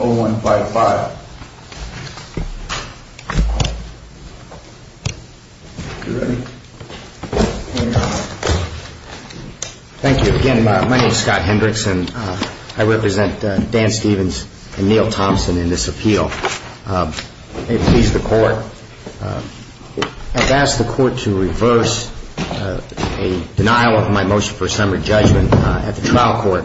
again. 517-0155. Thank you again. My name is Scott Hendricks and I represent Dan Stevens and Neil Thompson in this appeal. They appeased the court. I've asked the court to reverse a denial of my motion for a summary judgment at the trial court.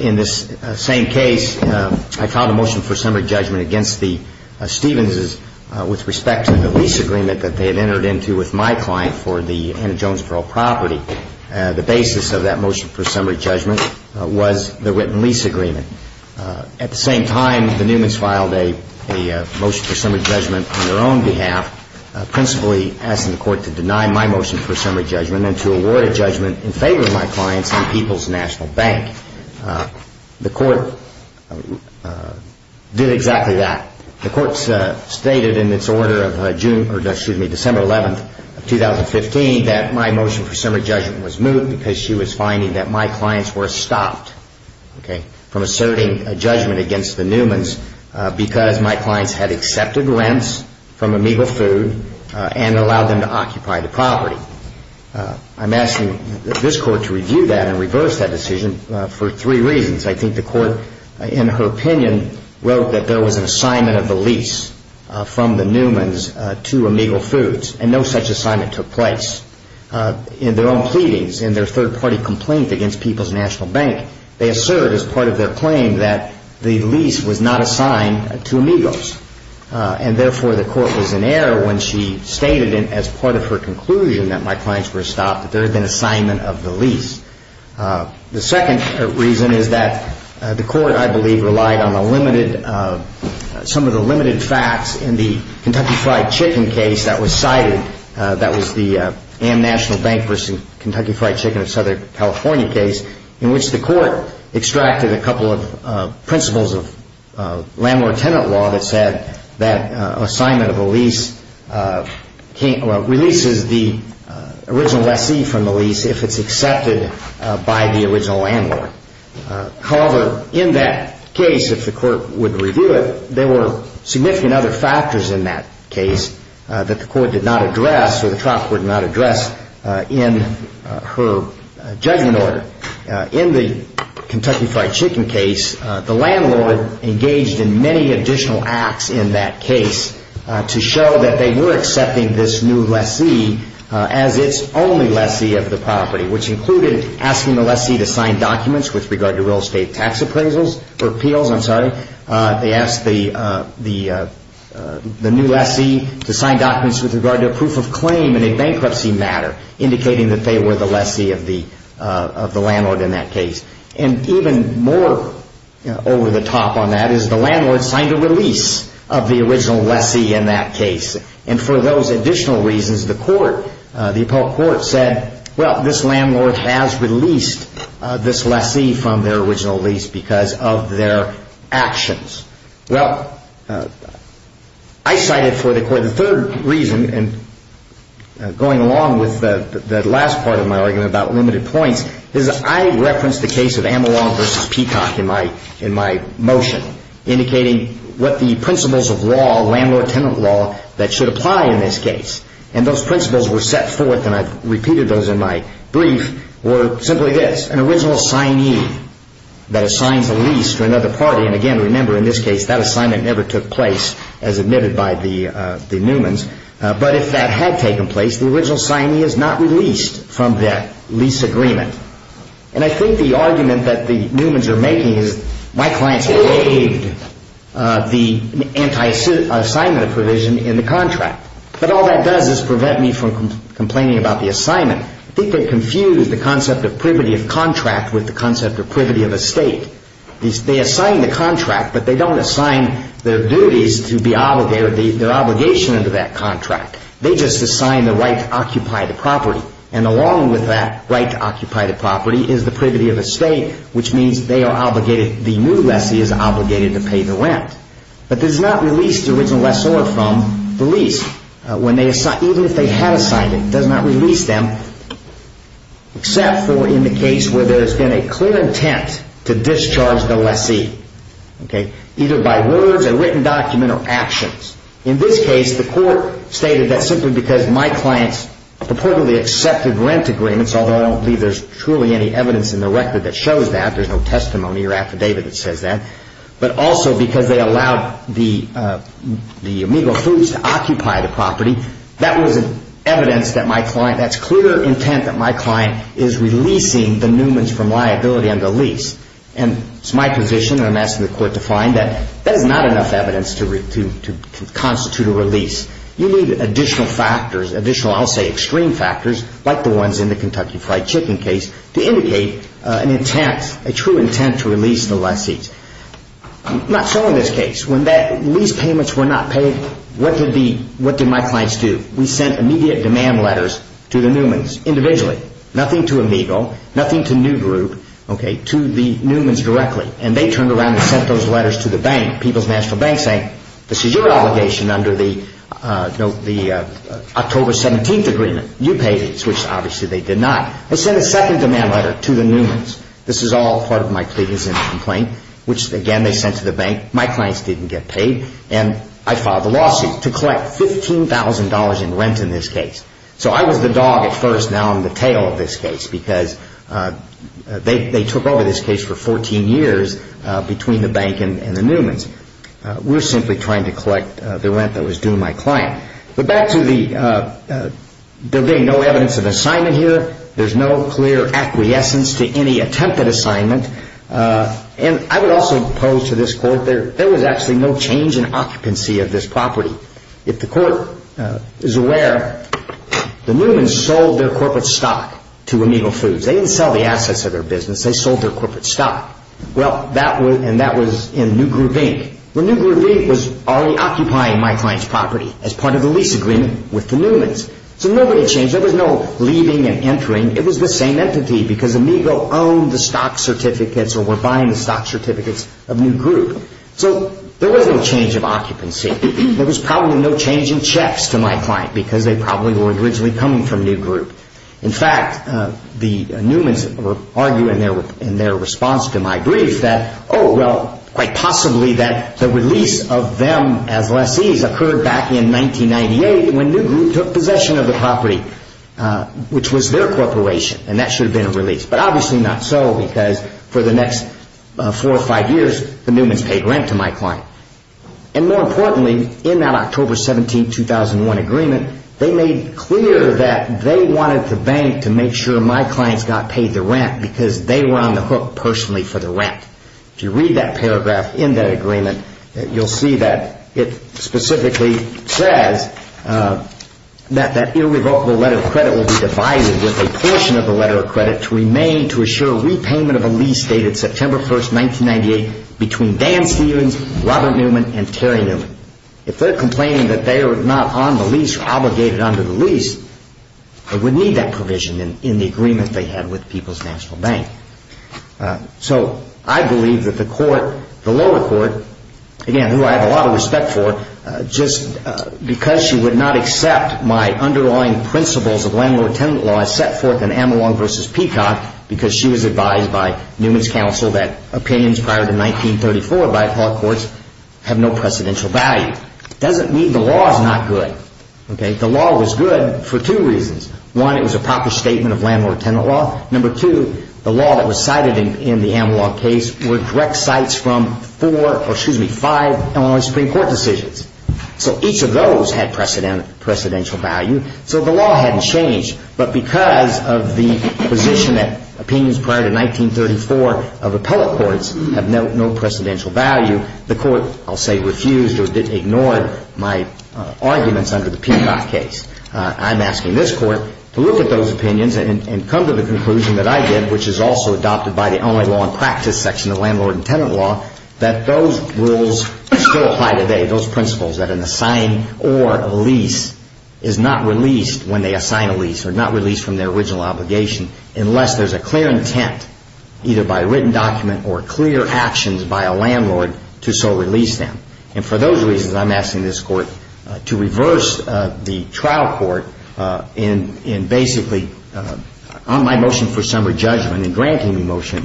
In this same case, I filed a motion for a summary judgment against the Stevens' with respect to the lease agreement that they had entered into with my client for the Anna Jones Pearl property. The basis of that motion for summary judgment was the written lease agreement. At the same time, the Newmans filed a motion for summary judgment on their own behalf, principally asking the court to deny my motion for a summary judgment and to award a judgment in favor of my clients in People's National Bank. The court did exactly that. The court stated in its order of December 11, 2015, that my motion for summary judgment was moved because she was finding that my clients were stopped from asserting a judgment against the Newmans because my clients had accepted rents from Amoeba Food and allowed them to occupy the property. I'm asking this court to review that and reverse that decision for three reasons. I think the court, in her opinion, wrote that there was an assignment of the lease from the Newmans to Amoeba Foods and no such assignment took place. In their own pleadings, in their third-party complaint against People's National Bank, they assert as part of their claim that the lease was not assigned to Amigos. Therefore, the court was in error when she stated, as part of her conclusion that my clients were stopped, that there had been an assignment of the lease. The second reason is that the court, I believe, relied on some of the limited facts in the Kentucky Fried Chicken case that was cited. That was the Am National Bank versus Kentucky Fried Chicken of Southern California case in which the court extracted a couple of principles of landlord-tenant law that said that assignment of a lease releases the original lessee from the lease if it's accepted. However, in that case, if the court would review it, there were significant other factors in that case that the court did not address or the trial court did not address in her judgment order. In the Kentucky Fried Chicken case, the landlord engaged in many additional acts in that case to show that they were accepting this new lessee as its only lessee of the property, which included asking the lessee to sign documents with regard to real estate tax appeals. They asked the new lessee to sign documents with regard to a proof of claim in a bankruptcy matter, indicating that they were the lessee of the landlord in that case. Even more over the top on that is the landlord signed a release of the original lessee in that case. For those additional reasons, the appellate court said, well, this landlord has released this lessee from their original lease because of their actions. The third reason, going along with the last part of my argument about limited points, is that I referenced the case of Amalong v. Peacock in my motion, indicating what the principles of landlord-tenant law that should apply in this case. And those principles were set forth, and I've repeated those in my brief, were simply this, an original signee that assigns a lease to another party. And again, remember, in this case, that assignment never took place as admitted by the Newmans. But if that had taken place, the original signee is not released from that lease agreement. And I think the argument that the Newmans are making is, my clients have waived the assignment of provision in the contract. But all that does is prevent me from complaining about the assignment. I think they confuse the concept of privity of contract with the concept of privity of estate. They assign the contract, but they don't assign their duties or their obligation under that contract. They just assign the right to occupy the property. And along with that right to occupy the property is the privity of estate, which means the new lessee is obligated to pay the rent. But this does not release the original lessor from the lease, even if they had assigned it. It does not release them, except for in the case where there's been a clear intent to discharge the lessee, either by words, a written document, or actions. In this case, the court stated that simply because my clients purportedly accepted rent agreements, although I don't believe there's truly any evidence in the record that shows that. There's no testimony or affidavit that says that. But also because they allowed the Amigo Foods to occupy the property. That was evidence that my client, that's clear intent that my client is releasing the Newmans from liability on the lease. And it's my position, and I'm asking the court to find, that that is not enough evidence to constitute a release. You need additional factors, additional, I'll say extreme factors, like the ones in the Kentucky Fried Chicken case, to indicate an intent, a true intent to release the lessee. Not so in this case. When lease payments were not paid, what did my clients do? We sent immediate demand letters to the Newmans individually. Nothing to Amigo, nothing to New Group, to the Newmans directly. And they turned around and sent those letters to the bank, People's National Bank, saying this is your obligation under the October 17th agreement. You paid it, which obviously they did not. They sent a second demand letter to the Newmans. This is all part of my plea is in the complaint, which again they sent to the bank. My clients didn't get paid, and I filed a lawsuit to collect $15,000 in rent in this case. So I was the dog at first, now I'm the tail of this case, because they took over this case for 14 years between the bank and the Newmans. We're simply trying to collect the rent that was due my client. But back to the there being no evidence of assignment here. There's no clear acquiescence to any attempted assignment. And I would also pose to this court, there was actually no change in occupancy of this property. If the court is aware, the Newmans sold their corporate stock to Amigo Foods. They didn't sell the assets of their business, they sold their corporate stock. And that was in New Group Inc. New Group Inc. was already occupying my client's property as part of the lease agreement with the Newmans. So nobody changed. There was no leaving and entering. It was the same entity because Amigo owned the stock certificates or were buying the stock certificates of New Group. So there was no change of occupancy. There was probably no change in checks to my client because they probably were originally coming from New Group. In fact, the Newmans argue in their response to my brief that, oh, well, quite possibly that the release of them as lessees occurred back in 1998 when New Group took possession of the property, which was their corporation. And that should have been a release. But obviously not so because for the next four or five years, the Newmans paid rent to my client. And more importantly, in that October 17, 2001 agreement, they made clear that they wanted the bank to make sure my clients got paid the rent because they were on the hook personally for the rent. If you read that paragraph in that agreement, you'll see that it specifically says that that irrevocable letter of credit will be divided with a portion of the letter of credit to remain to assure repayment of a lease dated September 1, 1998 between Dan Stevens, Robert Newman, and Terry Newman. If they're complaining that they are not on the lease or obligated under the lease, they would need that provision in the agreement they had with People's National Bank. So I believe that the court, the lower court, again, who I have a lot of respect for, just because she would not accept my underlying principles of landlord-tenant law as set forth in Amalong v. Peacock because she was advised by Newman's counsel that opinions prior to 1934 by appellate courts have no precedential value. It doesn't mean the law is not good. The law was good for two reasons. One, it was a proper statement of landlord-tenant law. Number two, the law that was cited in the Amalong case were direct cites from four or, excuse me, five Illinois Supreme Court decisions. So each of those had precedential value. So the law hadn't changed. But because of the position that opinions prior to 1934 of appellate courts have no precedential value, the court, I'll say, refused or ignored my arguments under the Peacock case. I'm asking this court to look at those opinions and come to the conclusion that I did, which is also adopted by the only law in practice section of landlord-tenant law, that those rules still apply today. Those principles that an assigned or a lease is not released when they assign a lease or not released from their original obligation unless there's a clear intent, either by written document or clear actions by a landlord, to so release them. And for those reasons, I'm asking this court to reverse the trial court in basically on my motion for summary judgment and granting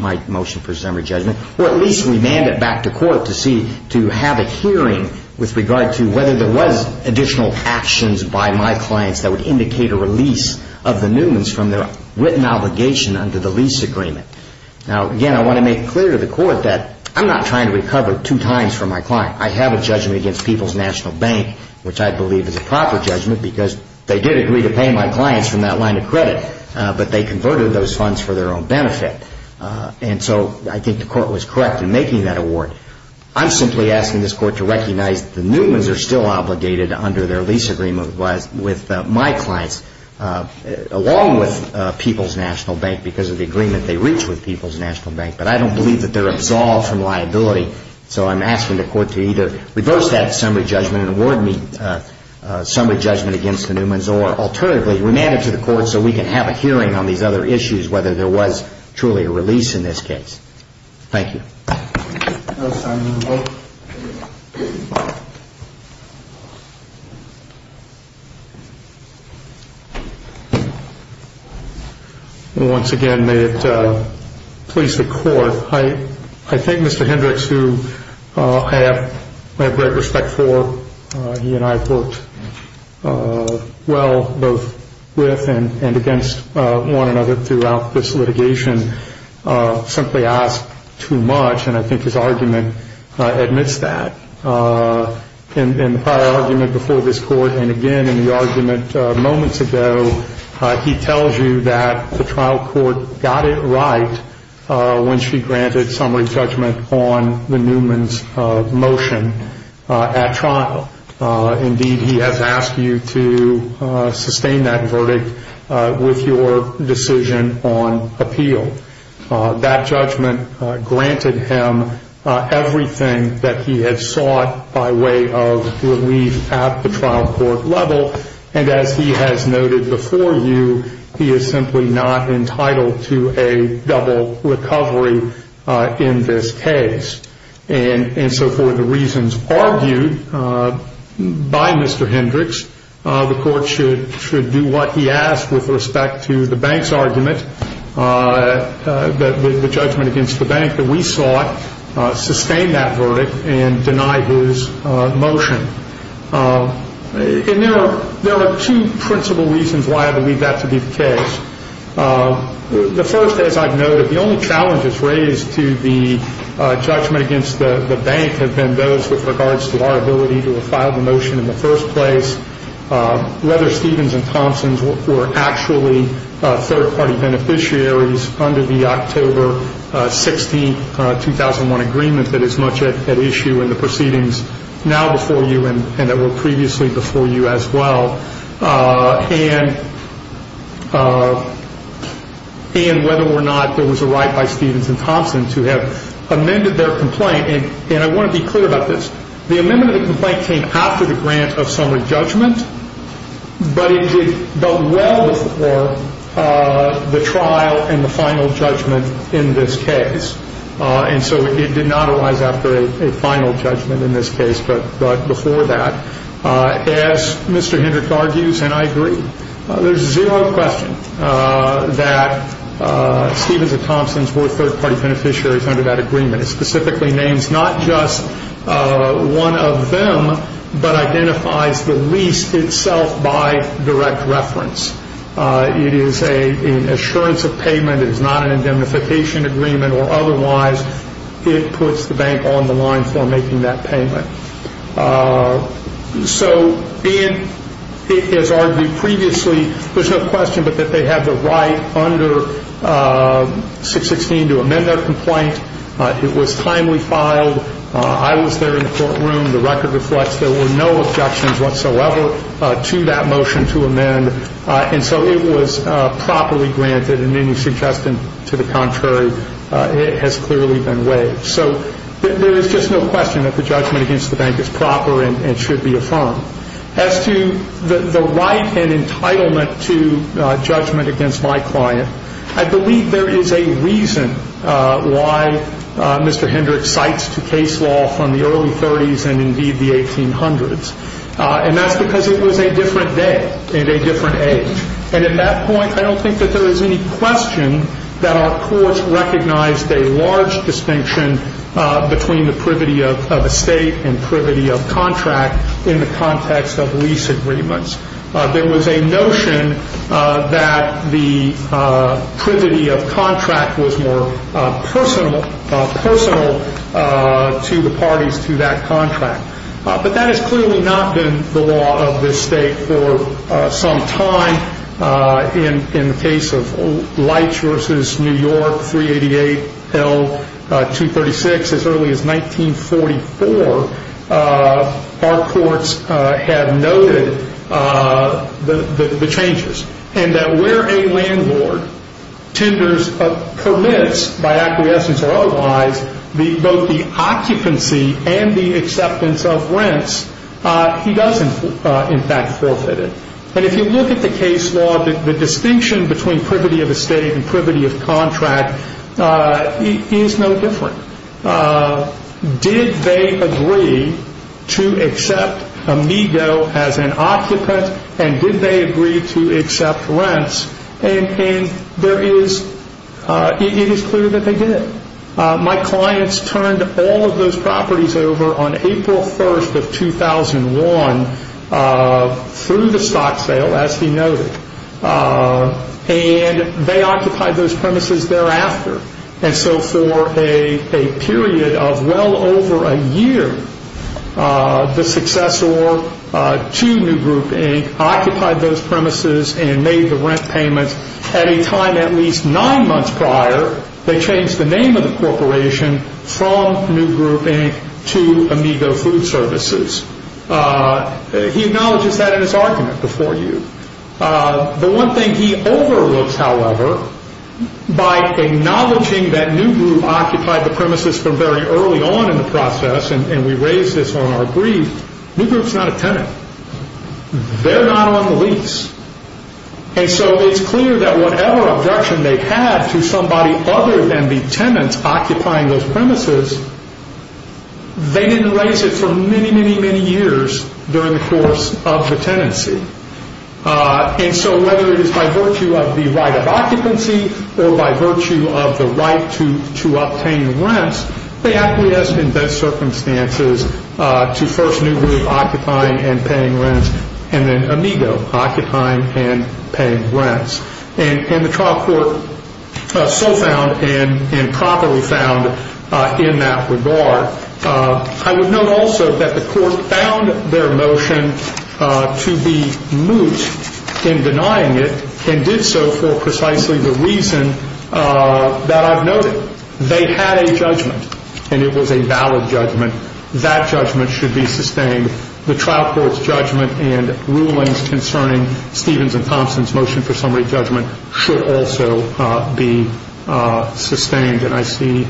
my motion for summary judgment, or at least remand it back to court to see, to have a hearing with the landlord-tenant law. With regard to whether there was additional actions by my clients that would indicate a release of the Newmans from their written obligation under the lease agreement. Now, again, I want to make clear to the court that I'm not trying to recover two times from my client. I have a judgment against People's National Bank, which I believe is a proper judgment because they did agree to pay my clients from that line of credit, but they converted those funds for their own benefit. And so I think the court was correct in making that award. I'm simply asking this court to recognize that the Newmans are still obligated under their lease agreement with my clients, along with People's National Bank because of the agreement they reached with People's National Bank, but I don't believe that they're absolved from liability. So I'm asking the court to either reverse that summary judgment and award me summary judgment against the Newmans, or alternatively, remand it to the court so we can have a hearing on these other issues, whether there was truly a release in this case. Thank you. That was time for the vote. I think his argument admits that. In the prior argument before this court, and again in the argument moments ago, he tells you that the trial court got it right when she granted summary judgment on the Newmans' motion at trial. Indeed, he has asked you to sustain that verdict with your decision on appeal. That judgment granted him everything that he had sought by way of relief at the trial court level, and as he has noted before you, he is simply not entitled to a double recovery in this case. And so for the reasons argued by Mr. Hendricks, the court should do what he asked with respect to the bank's argument, the judgment against the bank that we sought, sustain that verdict and deny his motion. And there are two principal reasons why I believe that to be the case. The first, as I've noted, the only challenges raised to the judgment against the bank have been those with regards to our ability to file the motion in the first place. Whether Stevens and Thompson were actually third-party beneficiaries under the October 16, 2001, agreement that is much at issue in the proceedings now before you and that were previously before you as well, and whether or not there was a right by Stevens and Thompson to have amended their complaint. And I want to be clear about this. The amendment of the complaint came after the grant of summary judgment, but it did go well before the trial and the final judgment in this case. And so it did not arise after a final judgment in this case, but before that. As Mr. Hendricks argues, and I agree, there's zero question that Stevens and Thompson's were third-party beneficiaries under that agreement. It specifically names not just one of them, but identifies the lease itself by direct reference. It is an assurance of payment. It is not an indemnification agreement, or otherwise it puts the bank on the line for making that payment. So, and as argued previously, there's no question but that they have the right under 616 to amend their complaint. It was timely filed. I was there in the courtroom. The record reflects there were no objections whatsoever to that motion to amend. And so it was properly granted, and any suggestion to the contrary has clearly been waived. So there is just no question that the judgment against the bank is proper and should be affirmed. As to the right and entitlement to judgment against my client, I believe there is a reason why Mr. Hendricks cites to case law from the early 30s and indeed the 1800s, and that's because it was a different day and a different age. And at that point, I don't think that there is any question that our courts recognized a large distinction between the privity of estate and privity of contract in the context of lease agreements. There was a notion that the privity of contract was more personal to the parties to that contract. But that has clearly not been the law of this state for some time. In the case of Leitch v. New York, 388L236, as early as 1944, our courts have noted the changes, and that where a landlord tenders or permits by acquiescence or otherwise both the occupancy and the acceptance of rents, he does in fact forfeit it. And if you look at the case law, the distinction between privity of estate and privity of contract is no different. Did they agree to accept Amigo as an occupant, and did they agree to accept rents? And it is clear that they did. My clients turned all of those properties over on April 1st of 2001 through the stock sale, as he noted, and they occupied those premises thereafter. And so for a period of well over a year, the successor to New Group Inc. occupied those premises and made the rent payments at a time at least nine months prior, they changed the name of the corporation from New Group Inc. to Amigo Food Services. He acknowledges that in his argument before you. The one thing he overlooks, however, by acknowledging that New Group occupied the premises from very early on in the process, and we raise this on our brief, New Group's not a tenant. They're not on the lease. And so it's clear that whatever objection they had to somebody other than the tenants occupying those premises, they didn't raise it for many, many, many years during the course of the tenancy. And so whether it is by virtue of the right of occupancy or by virtue of the right to obtain rents, they acquiesced in best circumstances to first New Group occupying and paying rents, and then Amigo occupying and paying rents. And the trial court so found and properly found in that regard. I would note also that the court found their motion to be moot in denying it and did so for precisely the reason that I've noted. They had a judgment, and it was a valid judgment. That judgment should be sustained. The trial court's judgment and rulings concerning Stevens and Thompson's motion for summary judgment should also be sustained. And I see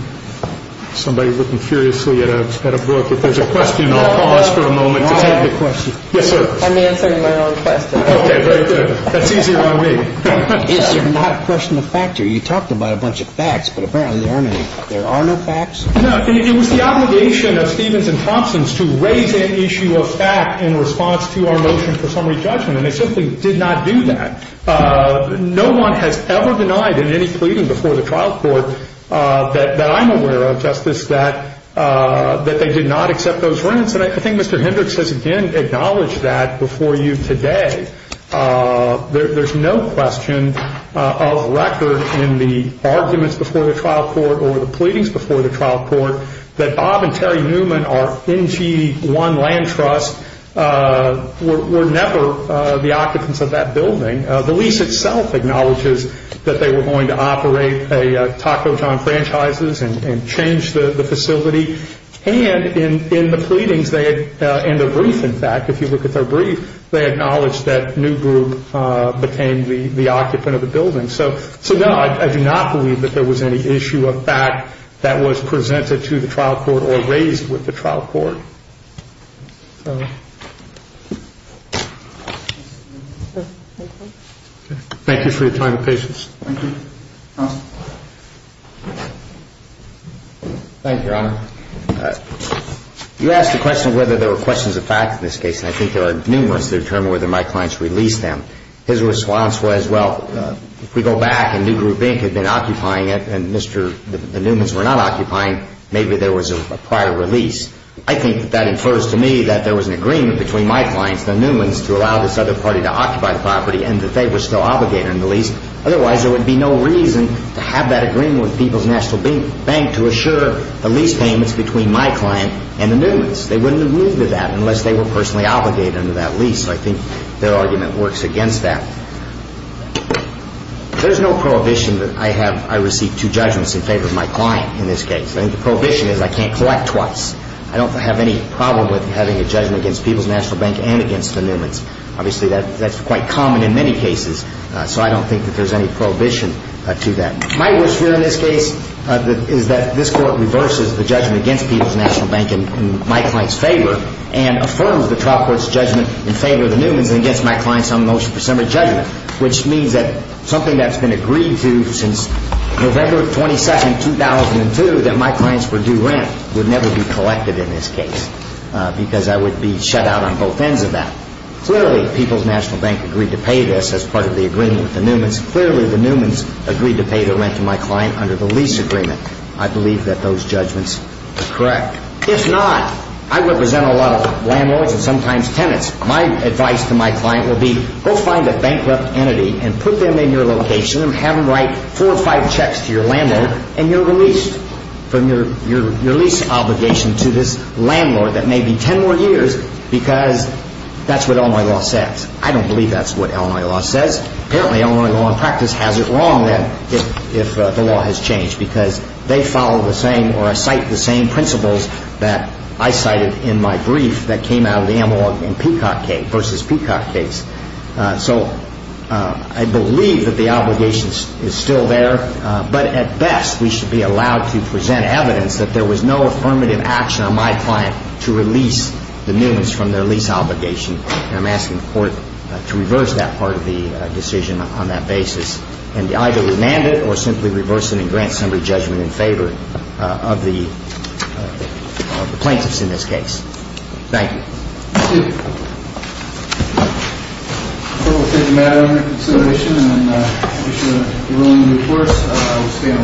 somebody looking furiously at a book. If there's a question, I'll pause for a moment. I have a question. Yes, sir. I'm answering my own question. Okay, very good. That's easier on me. Is there not a question of factor? You talked about a bunch of facts, but apparently there are no facts. No, it was the obligation of Stevens and Thompson's to raise an issue of fact in response to our motion for summary judgment, and they simply did not do that. No one has ever denied in any pleading before the trial court that I'm aware of, Justice, that they did not accept those rents. And I think Mr. Hendricks has again acknowledged that before you today. There's no question of record in the arguments before the trial court or the pleadings before the trial court that Bob and Terry Newman are NG1 land trusts. We're never the occupants of that building. The lease itself acknowledges that they were going to operate a Taco John franchises and change the facility. And in the pleadings, in the brief, in fact, if you look at their brief, they acknowledge that New Group became the occupant of the building. So no, I do not believe that there was any issue of fact that was presented to the trial court or raised with the trial court. Thank you for your time and patience. Thank you, Your Honor. You asked the question whether there were questions of fact in this case, and I think there are numerous to determine whether my clients released them. His response was, well, if we go back and New Group Inc. had been occupying it and the Newmans were not occupying, maybe there was a prior release. I think that that infers to me that there was an agreement between my clients, the Newmans, to allow this other party to occupy the property and that they were still obligated under the lease. Otherwise, there would be no reason to have that agreement with People's National Bank to assure the lease payments between my client and the Newmans. They wouldn't have moved to that unless they were personally obligated under that lease. So I think their argument works against that. There's no prohibition that I receive two judgments in favor of my client in this case. I think the prohibition is I can't collect twice. I don't have any problem with having a judgment against People's National Bank and against the Newmans. Obviously, that's quite common in many cases, so I don't think that there's any prohibition to that. My worst fear in this case is that this Court reverses the judgment against People's National Bank in my client's favor and affirms the trial court's judgment in favor of the Newmans and against my client's unemotional presumed judgment, which means that something that's been agreed to since November 22, 2002, that my clients were due rent, would never be collected in this case because I would be shut out on both ends of that. Clearly, People's National Bank agreed to pay this as part of the agreement with the Newmans. Clearly, the Newmans agreed to pay the rent to my client under the lease agreement. I believe that those judgments are correct. If not, I represent a lot of landlords and sometimes tenants. My advice to my client would be go find a bankrupt entity and put them in your location and have them write four or five checks to your landlord, and you're released from your lease obligation to this landlord that may be ten more years because that's what Illinois law says. I don't believe that's what Illinois law says. Apparently, Illinois law in practice has it wrong then if the law has changed because they follow the same or cite the same principles that I cited in my brief that came out of the Amalog and Peacock case versus Peacock case. So I believe that the obligation is still there, but at best, we should be allowed to present evidence that there was no affirmative action on my client to release the Newmans from their lease obligation. And I'm asking the Court to reverse that part of the decision on that basis and to either remand it or simply reverse it and grant some re-judgment in favor of the plaintiffs in this case. Thank you. Thank you. The Court will take the matter under consideration. And I wish you an early and good course.